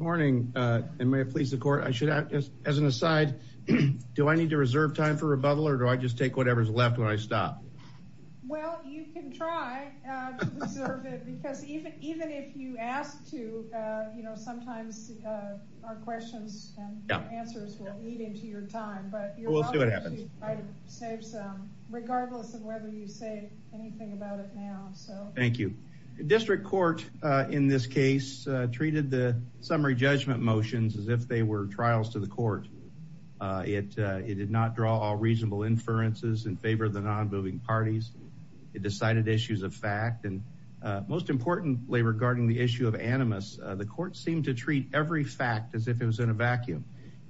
Morning, and may it please the court. As an aside, do I need to reserve time for rebuttal, or do I just take whatever's left when I stop? Well, you can try to reserve it, because even if you ask to, sometimes our questions and answers will lead into your time. But you're welcome to try to save some, regardless of whether you say anything about it now. Thank you. The district court in this case treated the summary judgment motions as if they were trials to the court. It did not draw all reasonable inferences in favor of the non-moving parties. It decided issues of fact. And most importantly regarding the issue of animus, the court seemed to treat every fact as if it was in a vacuum.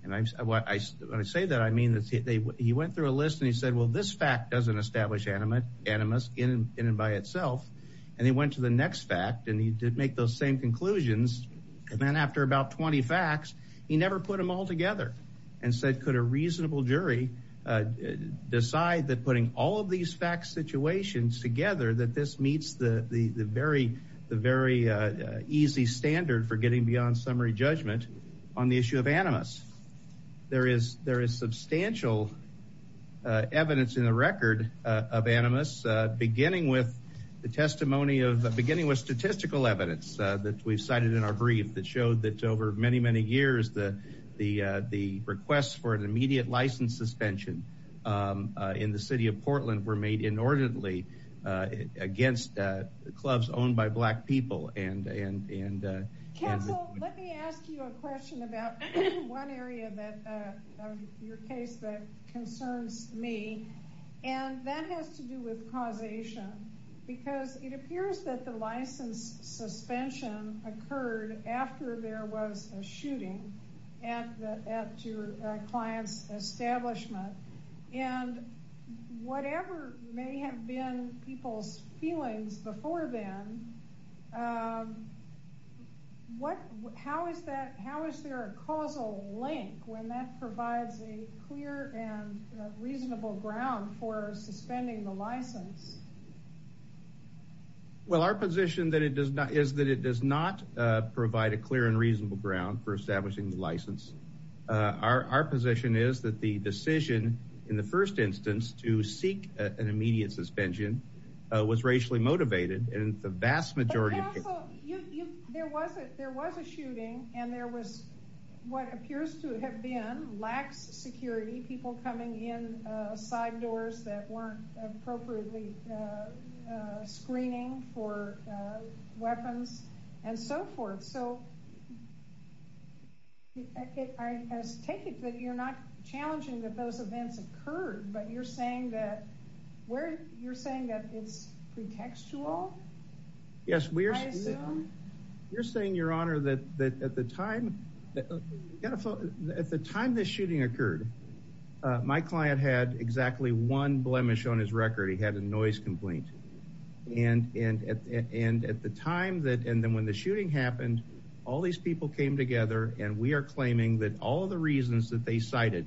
And when I say that, I mean that he went through a list and he said, well, this fact doesn't establish animus in and by itself. And he went to the next fact, and he did make those same conclusions. And then after about 20 facts, he never put them all together and said, could a reasonable jury decide that putting all of these fact situations together, that this meets the very easy standard for getting beyond summary judgment on the issue of animus. There is substantial evidence in the record of animus, beginning with the testimony of, beginning with statistical evidence that we've cited in our brief that showed that over many, many years, the requests for an immediate license suspension in the city of Portland were made inordinately against clubs owned by black people. And let me ask you a question about one area of your case that concerns me. And that has to do with causation, because it appears that the license suspension occurred after there was a shooting at your client's establishment. And whatever may have been people's feelings before then, how is there a causal link when that provides a clear and reasonable ground for suspending the license? Well, our position is that it does not provide a clear and reasonable ground for establishing the license. Our position is that the decision in the first instance to seek an immediate suspension was racially motivated. There was a shooting, and there was what appears to have been lax security, people coming in, side doors that weren't appropriately screening for weapons, and so forth. So I take it that you're not challenging that those events occurred, but you're saying that it's pretextual, I assume? Yes, you're saying, Your Honor, that at the time this shooting occurred, my client had exactly one blemish on his record. He had a noise complaint. And then when the shooting happened, all these people came together, and we are claiming that all of the reasons that they cited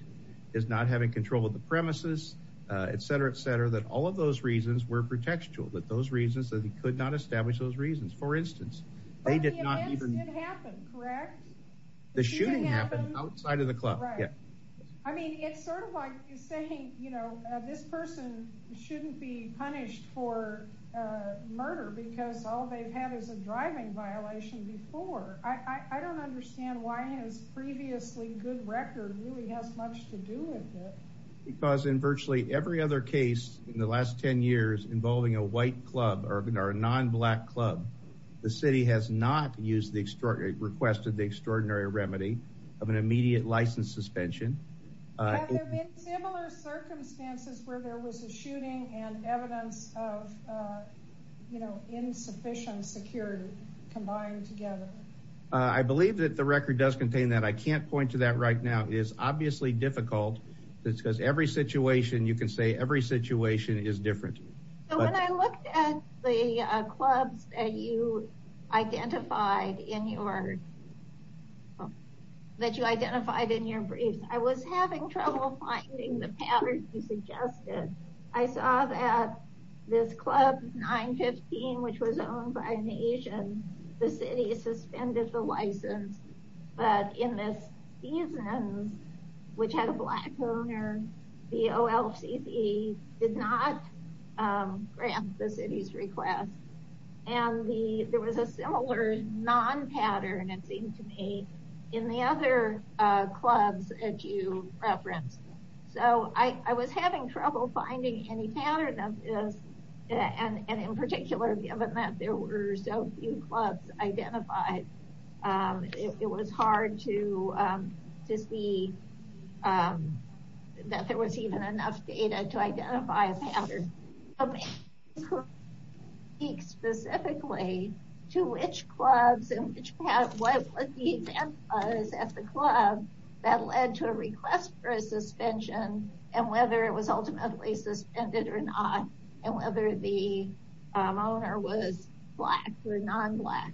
is not having control of the premises, etc., etc., that all of those reasons were pretextual, that those reasons that he could not establish those reasons. For instance, they did not even— But the events did happen, correct? The shooting happened outside of the club. Right. I mean, it's sort of like saying, you know, this person shouldn't be punished for murder because all they've had is a driving violation before. I don't understand why his previously good record really has much to do with it. Because in virtually every other case in the last 10 years involving a white club or a non-black club, the city has not used the extraordinary—requested the extraordinary remedy of an immediate license suspension. Have there been similar circumstances where there was a shooting and evidence of insufficient security combined together? I believe that the record does contain that. I can't point to that right now. It is obviously difficult because every situation—you can say every situation is different. When I looked at the clubs that you identified in your briefs, I was having trouble finding the patterns you suggested. I saw that this Club 915, which was owned by an Asian, the city suspended the license. But in this season, which had a black owner, the OLCC did not grant the city's request. And there was a similar non-pattern, it seemed to me, in the other clubs that you referenced. So I was having trouble finding any pattern of this. And in particular, given that there were so few clubs identified, it was hard to see that there was even enough data to identify a pattern. But maybe you could speak specifically to which clubs and what the event was at the club that led to a request for a suspension, and whether it was ultimately suspended or not, and whether the owner was black or non-black.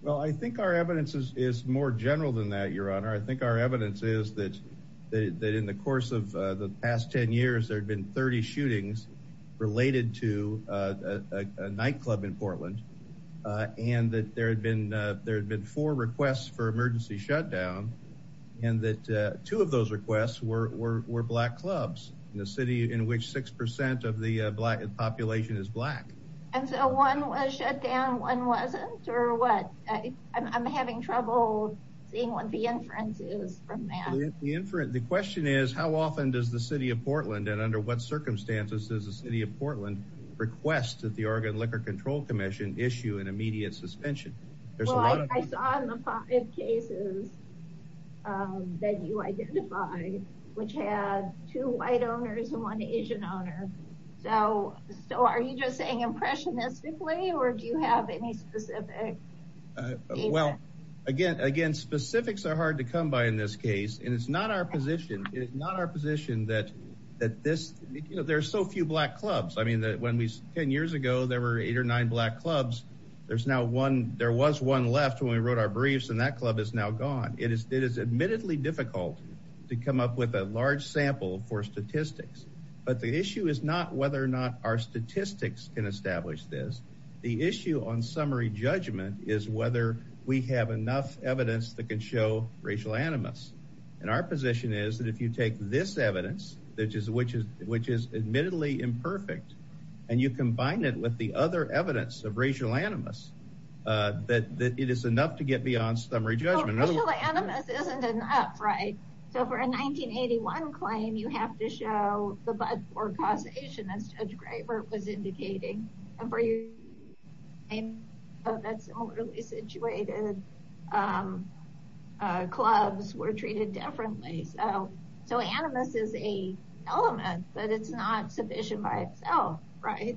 Well, I think our evidence is more general than that, Your Honor. I think our evidence is that in the course of the past 10 years, there had been 30 shootings related to a nightclub in Portland, and that there had been four requests for emergency shutdown, and that two of those requests were black clubs. The city in which 6% of the population is black. And so one was shut down, one wasn't? Or what? I'm having trouble seeing what the inference is from that. The question is, how often does the city of Portland, and under what circumstances does the city of Portland, request that the Oregon Liquor Control Commission issue an immediate suspension? Well, I saw in the five cases that you identified, which had two white owners and one Asian owner. So are you just saying impressionistically, or do you have any specific data? Well, again, specifics are hard to come by in this case, and it's not our position. It's not our position that there are so few black clubs. I mean, 10 years ago there were eight or nine black clubs. There was one left when we wrote our briefs, and that club is now gone. It is admittedly difficult to come up with a large sample for statistics. But the issue is not whether or not our statistics can establish this. The issue on summary judgment is whether we have enough evidence that can show racial animus. And our position is that if you take this evidence, which is admittedly imperfect, and you combine it with the other evidence of racial animus, that it is enough to get beyond summary judgment. Well, racial animus isn't enough, right? So for a 1981 claim, you have to show the bud for causation, as Judge Graber was indicating. And for a 1981 claim, that similarly situated clubs were treated differently. So animus is an element, but it's not sufficient by itself, right?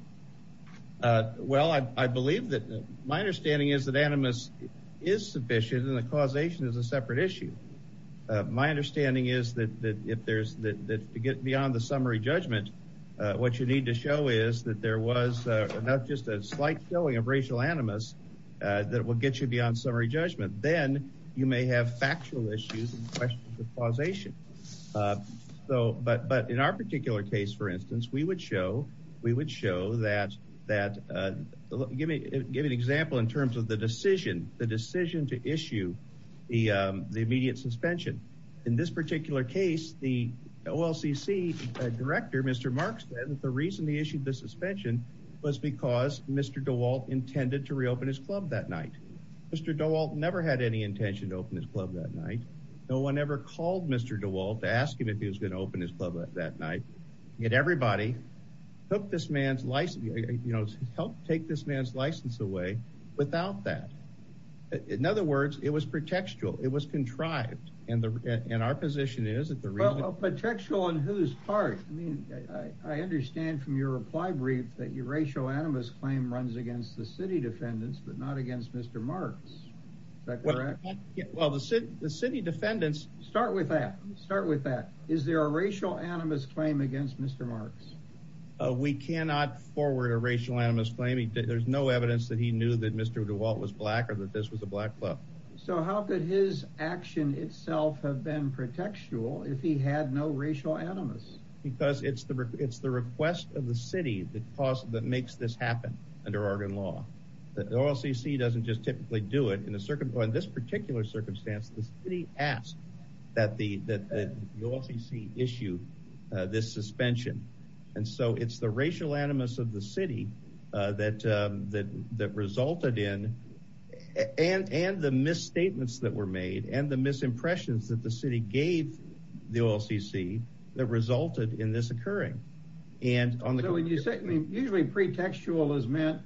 Well, I believe that my understanding is that animus is sufficient, and causation is a separate issue. My understanding is that to get beyond the summary judgment, what you need to show is that there was just a slight showing of racial animus that will get you beyond summary judgment. Then you may have factual issues and questions of causation. But in our particular case, for instance, we would show that— give an example in terms of the decision, the decision to issue the immediate suspension. In this particular case, the OLCC director, Mr. Marks, said that the reason he issued the suspension was because Mr. DeWalt intended to reopen his club that night. Mr. DeWalt never had any intention to open his club that night. No one ever called Mr. DeWalt to ask him if he was going to open his club that night. Yet everybody helped take this man's license away without that. In other words, it was pretextual. It was contrived. And our position is that the reason— Well, pretextual in whose part? I mean, I understand from your reply brief that your racial animus claim runs against the city defendants, but not against Mr. Marks. Is that correct? Well, the city defendants— Start with that. Start with that. Is there a racial animus claim against Mr. Marks? We cannot forward a racial animus claim. There's no evidence that he knew that Mr. DeWalt was black or that this was a black club. So how could his action itself have been pretextual if he had no racial animus? Because it's the request of the city that makes this happen under Oregon law. The OLCC doesn't just typically do it. In this particular circumstance, the city asked that the OLCC issue this suspension. And so it's the racial animus of the city that resulted in— and the misstatements that were made and the misimpressions that the city gave the OLCC that resulted in this occurring. So when you say—usually pretextual is meant—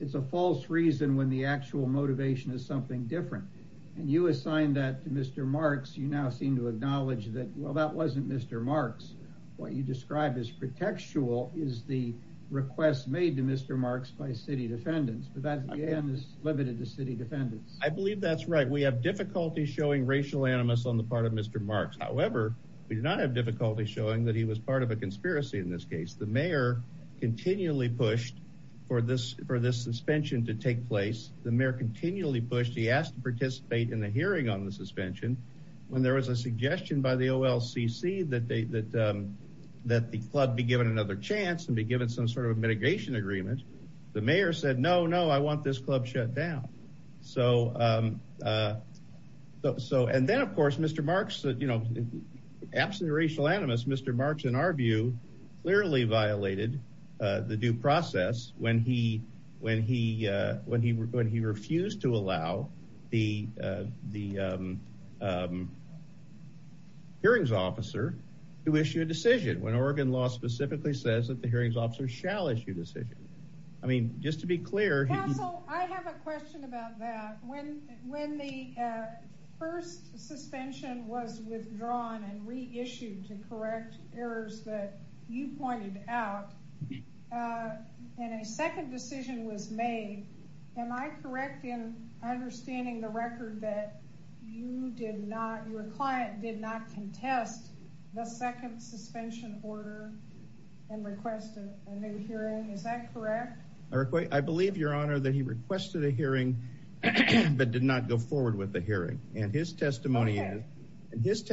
it's a false reason when the actual motivation is something different. And you assigned that to Mr. Marks. You now seem to acknowledge that, well, that wasn't Mr. Marks. What you describe as pretextual is the request made to Mr. Marks by city defendants. But that, again, is limited to city defendants. I believe that's right. We have difficulty showing racial animus on the part of Mr. Marks. However, we do not have difficulty showing that he was part of a conspiracy in this case. The mayor continually pushed for this suspension to take place. The mayor continually pushed. He asked to participate in the hearing on the suspension. When there was a suggestion by the OLCC that the club be given another chance and be given some sort of mitigation agreement, the mayor said, no, no, I want this club shut down. So—and then, of course, Mr. Marks—absolutely racial animus, Mr. Marks, in our view, clearly violated the due process when he refused to allow the hearings officer to issue a decision, when Oregon law specifically says that the hearings officer shall issue a decision. I mean, just to be clear— Council, I have a question about that. When the first suspension was withdrawn and reissued to correct errors that you pointed out, and a second decision was made, am I correct in understanding the record that you did not— your client did not contest the second suspension order and request a new hearing? Is that correct? I believe, Your Honor, that he requested a hearing but did not go forward with the hearing. And his testimony is,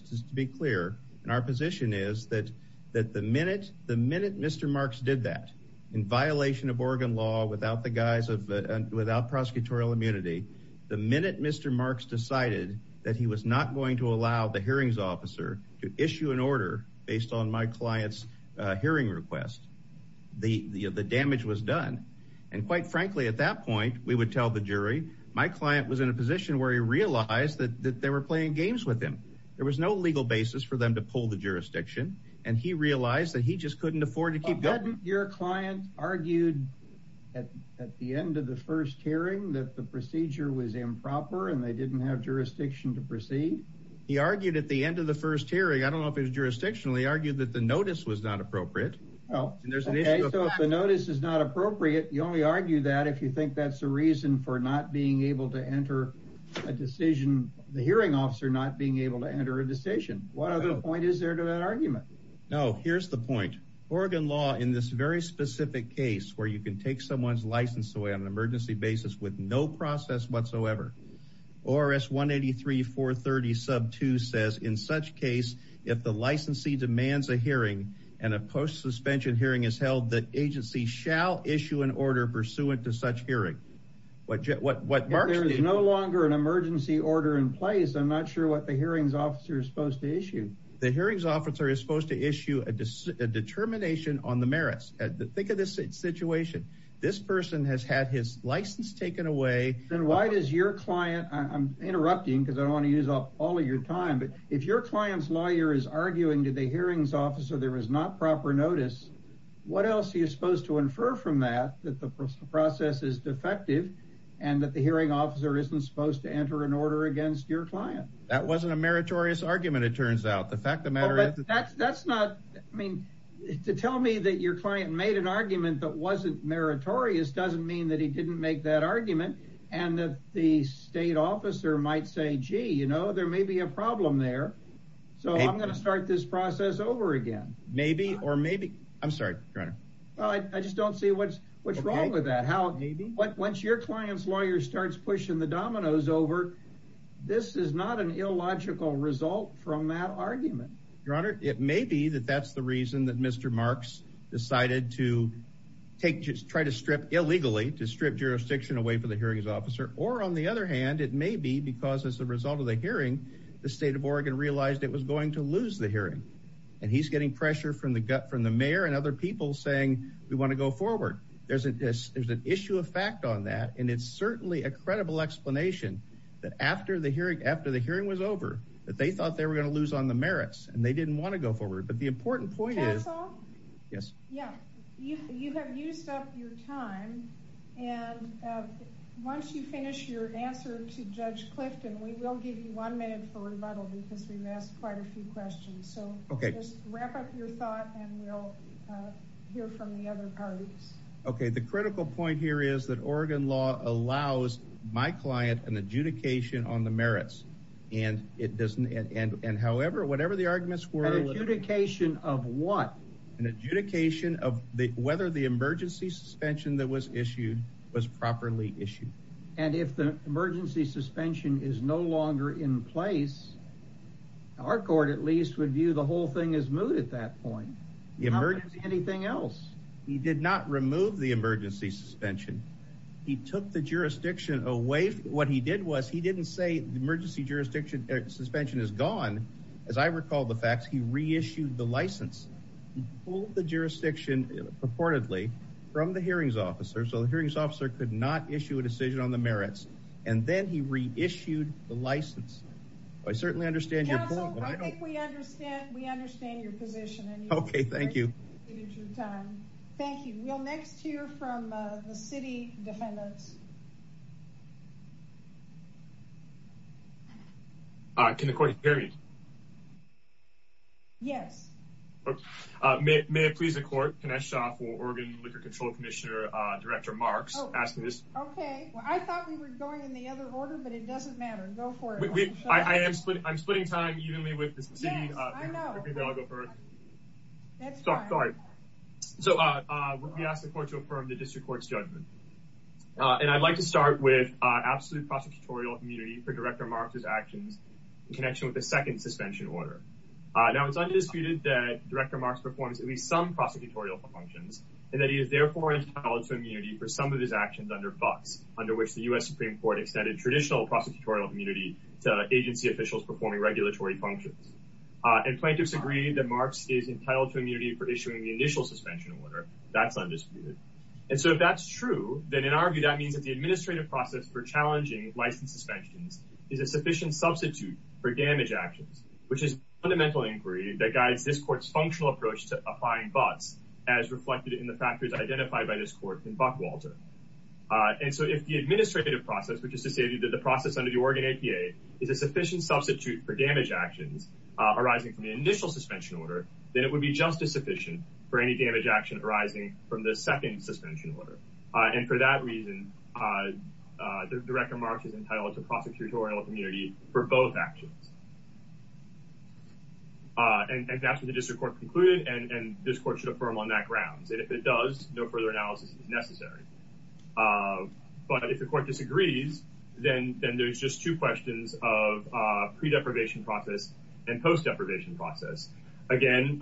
just to be clear, and our position is that the minute Mr. Marks did that, in violation of Oregon law without the guise of—without prosecutorial immunity, the minute Mr. Marks decided that he was not going to allow the hearings officer to issue an order based on my client's hearing request, the damage was done. And quite frankly, at that point, we would tell the jury, my client was in a position where he realized that they were playing games with him. There was no legal basis for them to pull the jurisdiction, and he realized that he just couldn't afford to keep going. Well, hadn't your client argued at the end of the first hearing that the procedure was improper and they didn't have jurisdiction to proceed? He argued at the end of the first hearing. I don't know if it was jurisdictional. He argued that the notice was not appropriate. Well, okay, so if the notice is not appropriate, you only argue that if you think that's the reason for not being able to enter a decision— the hearing officer not being able to enter a decision. What other point is there to that argument? No, here's the point. Oregon law, in this very specific case, where you can take someone's license away on an emergency basis with no process whatsoever, ORS 183.430.2 says, If there is no longer an emergency order in place, I'm not sure what the hearings officer is supposed to issue. The hearings officer is supposed to issue a determination on the merits. Think of this situation. This person has had his license taken away. Then why does your client— I'm interrupting because I don't want to use up all of your time, but if your client's lawyer is arguing to the hearings officer there was not proper notice, what else are you supposed to infer from that, that the process is defective and that the hearing officer isn't supposed to enter an order against your client? That wasn't a meritorious argument, it turns out. The fact of the matter is— That's not—I mean, to tell me that your client made an argument that wasn't meritorious doesn't mean that he didn't make that argument. And that the state officer might say, gee, you know, there may be a problem there, so I'm going to start this process over again. Maybe or maybe—I'm sorry, Your Honor. I just don't see what's wrong with that. Once your client's lawyer starts pushing the dominoes over, this is not an illogical result from that argument. Your Honor, it may be that that's the reason that Mr. Marks decided to try to strip illegally, to strip jurisdiction away from the hearings officer, or on the other hand, it may be because as a result of the hearing, the state of Oregon realized it was going to lose the hearing. And he's getting pressure from the mayor and other people saying, we want to go forward. There's an issue of fact on that, and it's certainly a credible explanation that after the hearing was over, that they thought they were going to lose on the merits, and they didn't want to go forward. But the important point is— Counsel? Yes. You have used up your time, and once you finish your answer to Judge Clifton, we will give you one minute for rebuttal, because we've asked quite a few questions. So just wrap up your thought, and we'll hear from the other parties. Okay, the critical point here is that Oregon law allows my client an adjudication on the merits, and however, whatever the arguments were— An adjudication of what? An adjudication of whether the emergency suspension that was issued was properly issued. And if the emergency suspension is no longer in place, our court at least would view the whole thing as moot at that point. How could it be anything else? He did not remove the emergency suspension. He took the jurisdiction away. What he did was he didn't say the emergency jurisdiction suspension is gone. As I recall the facts, he reissued the license. He pulled the jurisdiction purportedly from the hearings officer, so the hearings officer could not issue a decision on the merits, and then he reissued the license. I certainly understand your point, but I don't— Counsel, I think we understand your position. Okay, thank you. Thank you. We'll next hear from the city defendants. Yes. Can the court hear me? Yes. May it please the court, Can I stop for Oregon Liquor Control Commissioner, Director Marks, asking this? Okay. I thought we were going in the other order, but it doesn't matter. Go for it. I'm splitting time evenly with the city. Yes, I know. Sorry. So we ask the court to affirm the district court's judgment. And I'd like to start with absolute prosecutorial immunity for Director Marks' actions in connection with the second suspension order. Now, it's undisputed that Director Marks performs at least some prosecutorial functions, and that he is therefore entitled to immunity for some of his actions under BUCS, under which the U.S. Supreme Court extended traditional prosecutorial immunity to agency officials performing regulatory functions. And plaintiffs agree that Marks is entitled to immunity for issuing the initial suspension order. That's undisputed. And so if that's true, then in our view that means that the administrative process for challenging license suspensions is a sufficient substitute for damage actions, which is fundamental inquiry that guides this court's functional approach to applying BUCS as reflected in the factors identified by this court in BUC Walter. And so if the administrative process, which is to say that the process under the Oregon APA is a sufficient substitute for damage actions arising from the initial suspension order, then it would be just as sufficient for any damage action arising from the second suspension order. And for that reason, Director Marks is entitled to prosecutorial immunity for both actions. And that's what the district court concluded, and this court should affirm on that grounds. And if it does, no further analysis is necessary. But if the court disagrees, then there's just two questions of pre deprivation process and post deprivation process. Again,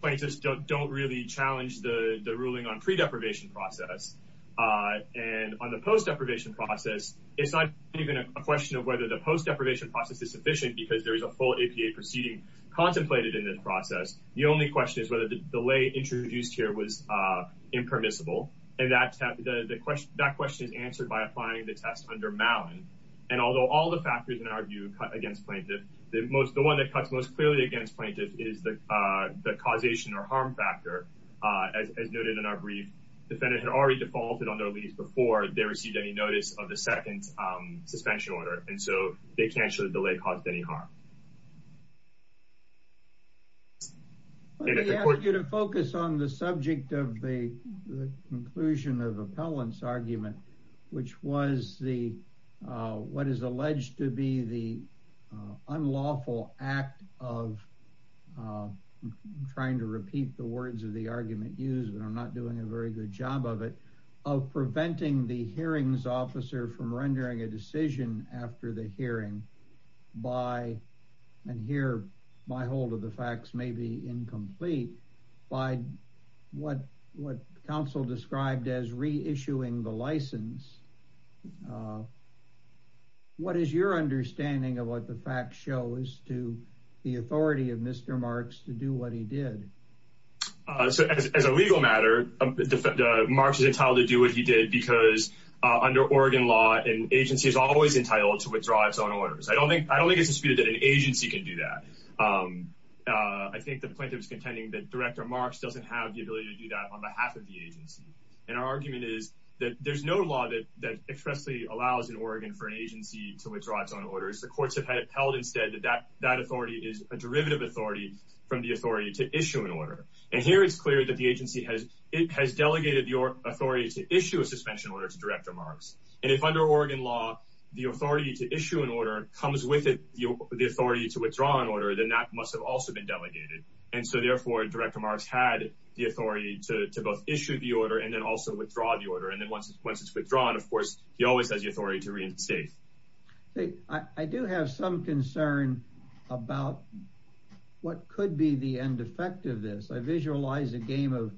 plaintiffs don't really challenge the ruling on pre deprivation process. And on the post deprivation process, it's not even a question of whether the post deprivation process is sufficient because there is a full APA proceeding contemplated in this process. The only question is whether the delay introduced here was impermissible. And that question is answered by applying the test under Malin. And although all the factors in our view cut against plaintiff, the one that cuts most clearly against plaintiff is the causation or harm factor. As noted in our brief, defendant had already defaulted on their lease before they received any notice of the second suspension order. And so they canceled the delay caused any harm. Let me ask you to focus on the subject of the conclusion of appellants argument, which was the what is alleged to be the unlawful act of trying to repeat the words of the argument used, but I'm not doing a very good job of it of preventing the hearings officer from rendering a decision after the hearing by, and here my hold of the facts may be incomplete by what, what council described as reissuing the license. What is your understanding of what the fact shows to the authority of Mr. Marks to do what he did? So as a legal matter, Marks is entitled to do what he did because under Oregon law and agency is always entitled to withdraw its own orders. I don't think, I don't think it's disputed that an agency can do that. I think the plaintiff is contending that director Marks doesn't have the ability to do that on behalf of the agency. And our argument is that there's no law that, that expressly allows an Oregon for an agency to withdraw its own orders. The courts have held instead that that, that authority is a derivative authority from the authority to issue an order. And here it's clear that the agency has, it has delegated your authority to issue a suspension order to director Marks. And if under Oregon law, the authority to issue an order comes with the authority to withdraw an order, then that must have also been delegated. And so therefore director Marks had the authority to, to both issue the order and then also withdraw the order. And then once it's, once it's withdrawn, of course, he always has the authority to reinstate. I do have some concern about what could be the end effect of this. I visualize a game of,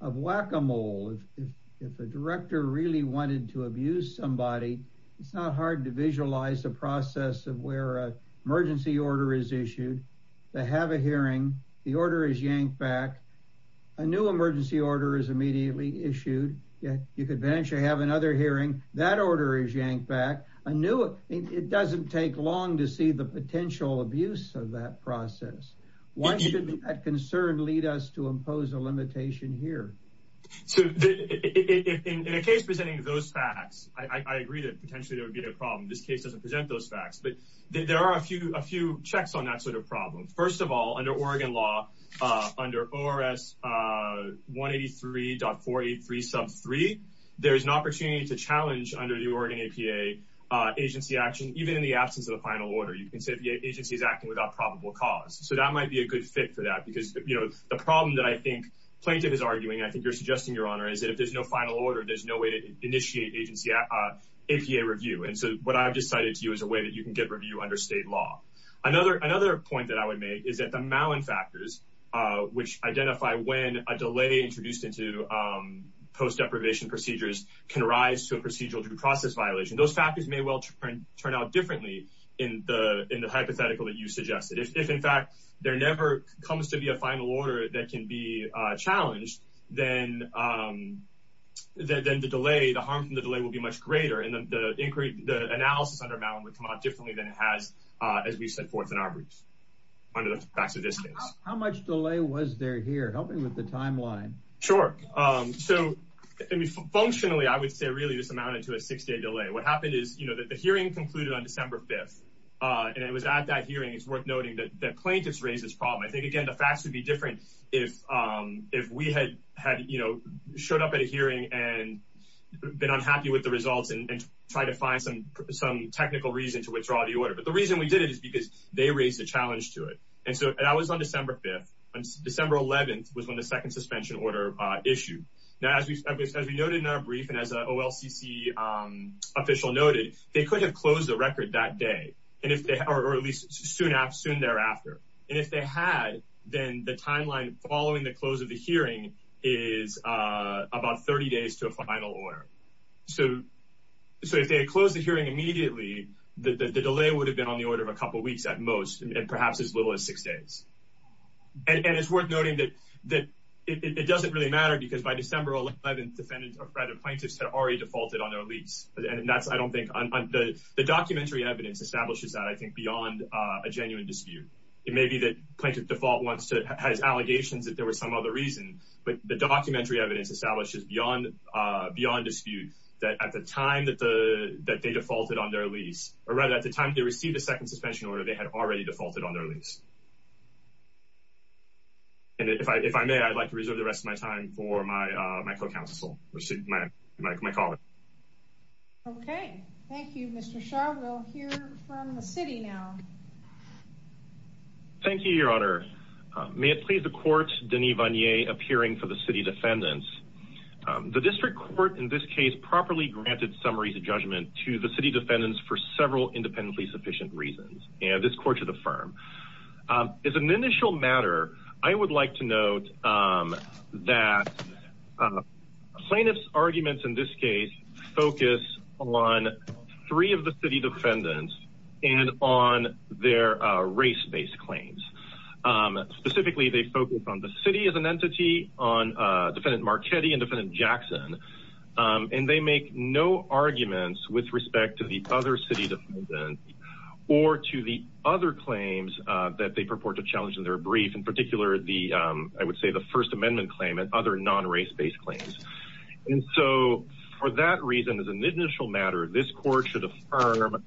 of whack-a-mole. If, if, if a director really wanted to abuse somebody, it's not hard to visualize the process of where a emergency order is issued. They have a hearing. The order is yanked back. A new emergency order is immediately issued. Yeah. You could eventually have another hearing that order is yanked back a new, it doesn't take long to see the potential abuse of that process. Why should that concern lead us to impose a limitation here? So in a case presenting those facts, I agree that potentially there would be a problem. This case doesn't present those facts, but there are a few, a few checks on that sort of problem. First of all, under Oregon law, under ORS 183.43 sub three, there's an opportunity to challenge under the Oregon APA agency action, even in the absence of the final order, you can say if the agency is acting without probable cause. So that might be a good fit for that because you know, the problem that I think plaintiff is arguing, I think you're suggesting your honor is that if there's no final order, there's no way to initiate agency APA review. And so what I've decided to you as a way that you can get review under state law, another, another point that I would make is that the Malin factors, which identify when a delay introduced into post deprivation procedures can rise to a procedural due process violation. Those factors may well turn out differently in the, in the hypothetical that you suggested. If in fact there never comes to be a final order that can be challenged, then the delay, the harm from the delay will be much greater in the inquiry. The analysis under Malin would come out differently than it has as we set forth in our briefs under the facts of this case. How much delay was there here helping with the timeline? Sure. So functionally, I would say really just amounted to a six day delay. What happened is, you know, that the hearing concluded on December 5th and it was at that hearing. It's worth noting that plaintiffs raised this problem. I think, again, the facts would be different if, if we had had, you know, showed up at a hearing and been unhappy with the results and try to find some, some technical reason to withdraw the order. But the reason we did it is because they raised a challenge to it. And so I was on December 5th, December 11th was when the second suspension order issued. Now, as we noted in our brief and as a OLCC official noted, they could have closed the record that day. And if they, or at least soon after soon thereafter, and if they had, then the timeline following the close of the hearing is about 30 days to a final order. So, so if they had closed the hearing immediately, the delay would have been on the order of a couple of weeks at most, and perhaps as little as six days. And it's worth noting that it doesn't really matter because by December 11th, defendants or private plaintiffs had already defaulted on their lease. And that's, I don't think the documentary evidence establishes that. I think beyond a genuine dispute, it may be that plaintiff default wants to has allegations that there was some other reason, but the documentary evidence establishes beyond, beyond dispute that at the time that the, that they defaulted on their lease or rather at the time they received a second suspension order, they had already defaulted on their lease. And if I, if I may, I'd like to reserve the rest of my time for my, my co-counsel, my colleague. Okay. Thank you, Mr. Shaw. We'll hear from the city now. Thank you, your honor. May it please the court, Denis Vanier appearing for the city defendants, the district court in this case properly granted summaries of judgment to the city defendants for several independently sufficient reasons. And this court should affirm is an initial matter. I would like to note that plaintiff's arguments in this case, focus on three of the city defendants and on their race-based claims. Specifically, they focus on the city as an entity on defendant Marchetti and defendant Jackson. And they make no arguments with respect to the other city or to the other claims that they purport to challenge in their brief in particular, the, I would say the first amendment claim, and other non-race-based claims. And so for that reason, as an initial matter, this court should affirm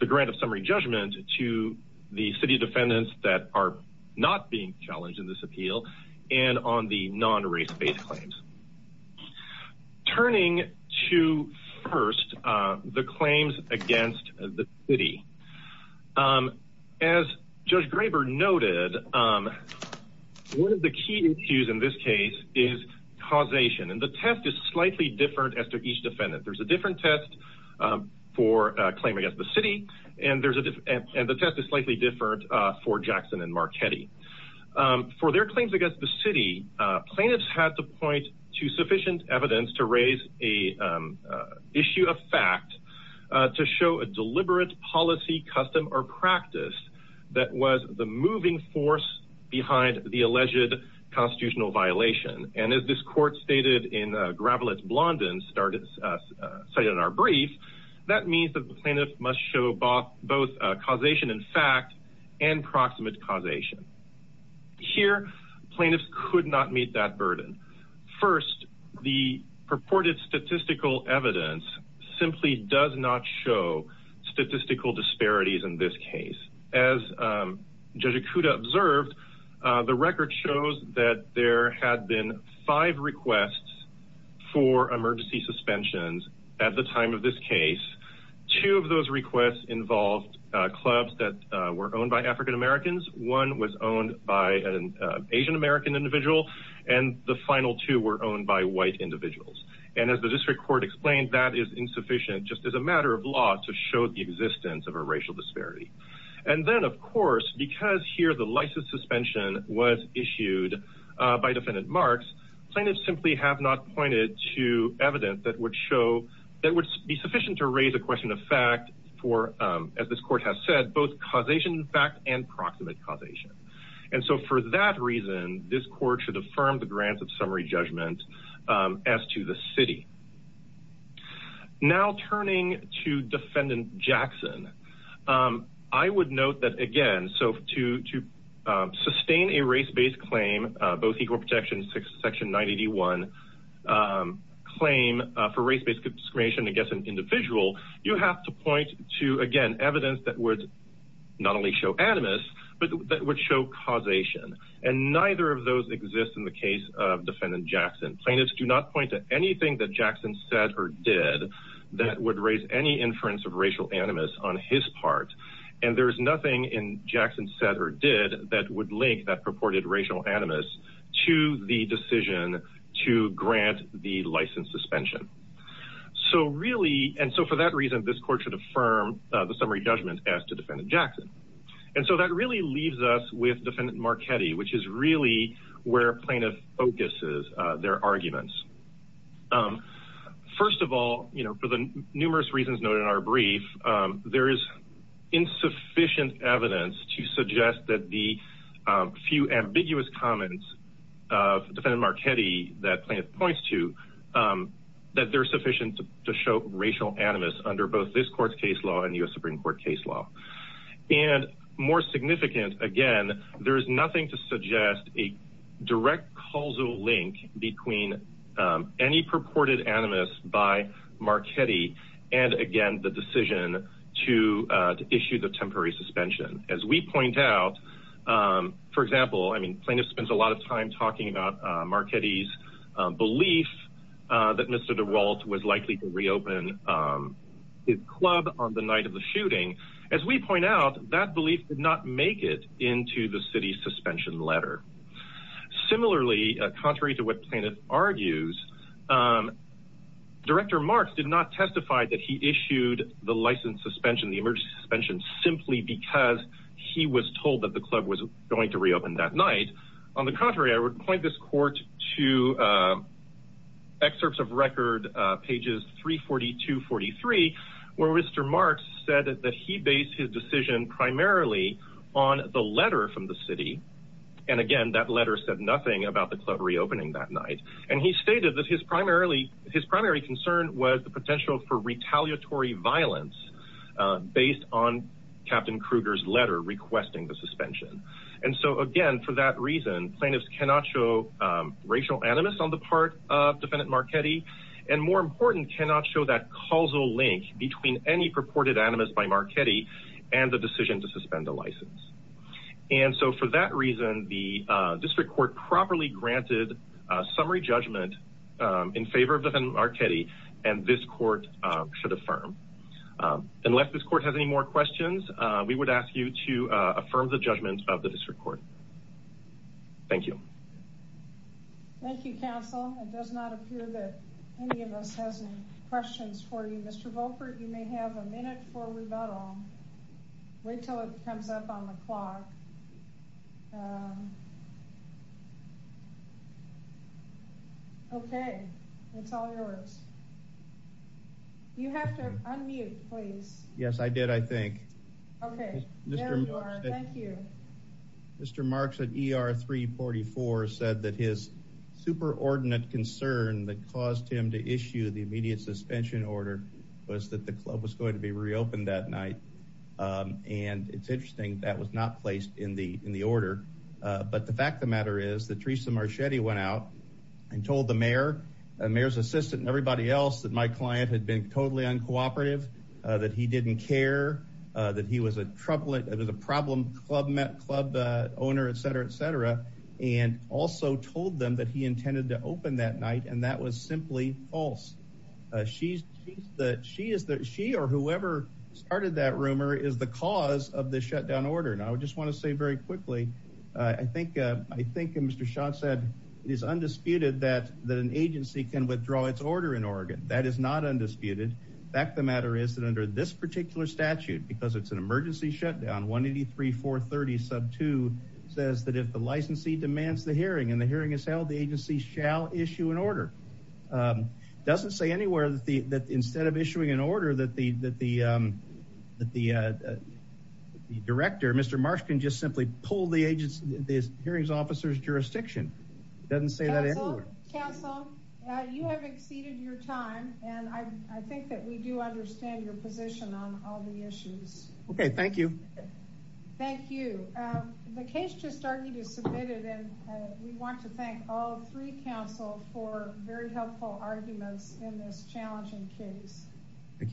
the grant of summary judgment to the city defendants that are not being challenged in this appeal and on the non-race-based claims. Turning to first the claims against the city as judge Graber noted, and one of the key issues in this case is causation. And the test is slightly different as to each defendant. There's a different test for a claim against the city. And there's a different, and the test is slightly different for Jackson and Marchetti for their claims against the city plaintiffs had to point to sufficient evidence to raise a issue of fact to show a deliberate policy, custom or practice that was the moving force behind the alleged constitutional violation. And as this court stated in a gravel, it's Blondin started, say in our brief, that means that the plaintiff must show both both causation and fact and proximate causation here. Plaintiffs could not meet that burden. First, the purported statistical evidence simply does not show statistical disparities. In this case, as judge Akuta observed the record shows that there had been five requests for emergency suspensions at the time of this case, two of those requests involved clubs that were owned by African Americans. One was owned by an Asian American individual and the final two were owned by white individuals. And as the district court explained, I think that is insufficient just as a matter of law to show the existence of a racial disparity. And then of course, because here the license suspension was issued by defendant marks, plaintiffs simply have not pointed to evidence that would show that would be sufficient to raise a question of fact for as this court has said, both causation fact and proximate causation. And so for that reason, this court should affirm the grants of summary judgment as to the city. Now turning to defendant Jackson, I would note that again, so to, to sustain a race-based claim, both equal protection, section 981, claim for race-based discrimination against an individual, you have to point to again, evidence that would not only show animus, but that would show causation. And neither of those exists in the case of defendant Jackson. Plaintiffs do not point to anything that Jackson said or did that would raise any inference of racial animus on his part. And there's nothing in Jackson said or did that would link that purported racial animus to the decision to grant the license suspension. So really, and so for that reason, this court should affirm the summary judgment as to defendant Jackson. And so that really leaves us with defendant Marchetti, which is really where plaintiff focuses their arguments. First of all, you know, for the numerous reasons noted in our brief, there is insufficient evidence to suggest that the few ambiguous comments of defendant Marchetti that plaintiff points to that they're sufficient to show racial animus under both this court's case law and U.S. Supreme court case law. And more significant, again, there is nothing to suggest a direct causal link between any purported animus by Marchetti and again, the decision to issue the temporary suspension. As we point out, for example, I mean plaintiff spends a lot of time talking about Marchetti's belief that Mr. DeWalt was likely to reopen his club on the night of the shooting. As we point out, that belief did not make it into the city suspension letter. Similarly, contrary to what plaintiff argues, director Marks did not testify that he issued the license suspension, the emergency suspension, simply because he was told that the club was going to reopen that night. On the contrary, I would point this court to excerpts of record pages, 342, 43, where Mr. Marks said that he based his decision primarily on the letter from the city. And again, that letter said nothing about the club reopening that night. And he stated that his primarily, his primary concern was the potential for retaliatory violence based on captain Kruger's letter requesting the suspension. And so again, for that reason, plaintiffs cannot show racial animus on the part of defendant Marchetti and more important, cannot show that causal link between any purported animus by Marchetti and the decision to suspend the license. And so for that reason, the district court properly granted a summary judgment in favor of Marchetti and this court should affirm. Unless this court has any more questions, we would ask you to affirm the judgment of the district court. Thank you. Thank you, counsel. It does not appear that any of us has any questions for you, Mr. Volkert. You may have a minute for rebuttal. Wait till it comes up on the clock. Okay. It's all yours. You have to unmute please. Yes, I did. I think. Okay. Thank you. Mr. Marks at ER 344 said that his superordinate concern that caused him to issue the immediate suspension order was that the club was going to be reopened that night. And it's interesting that was not placed in the, in the order. But the fact of the matter is that Teresa Marchetti went out and told the mayor and mayor's assistant and everybody else that my client had been totally uncooperative, that he didn't care, that he was a troubling, it was a problem, club owner, et cetera, et cetera. And also told them that he intended to open that night. And that was simply false. She's the, she is the, she or whoever started that rumor is the cause of the shutdown order. And I would just want to say very quickly, I think, I think Mr. Schott said it is undisputed that an agency can withdraw its order in Oregon. That is not undisputed. The fact of the matter is that under this particular statute, because it's an emergency shutdown, 183430 sub two says that if the licensee demands the hearing and the hearing is held, the agency shall issue an order. It doesn't say anywhere that the, that instead of issuing an order, that the, that the, that the, the director, Mr. Marsh can just simply pull the agency, the hearings officers jurisdiction. It doesn't say that anywhere. Council, you have exceeded your time. And I think that we do understand your position on all the issues. Okay. Thank you. Thank you. The case just started to submit it. And we want to thank all three council for very helpful arguments in this challenging case. Thank you.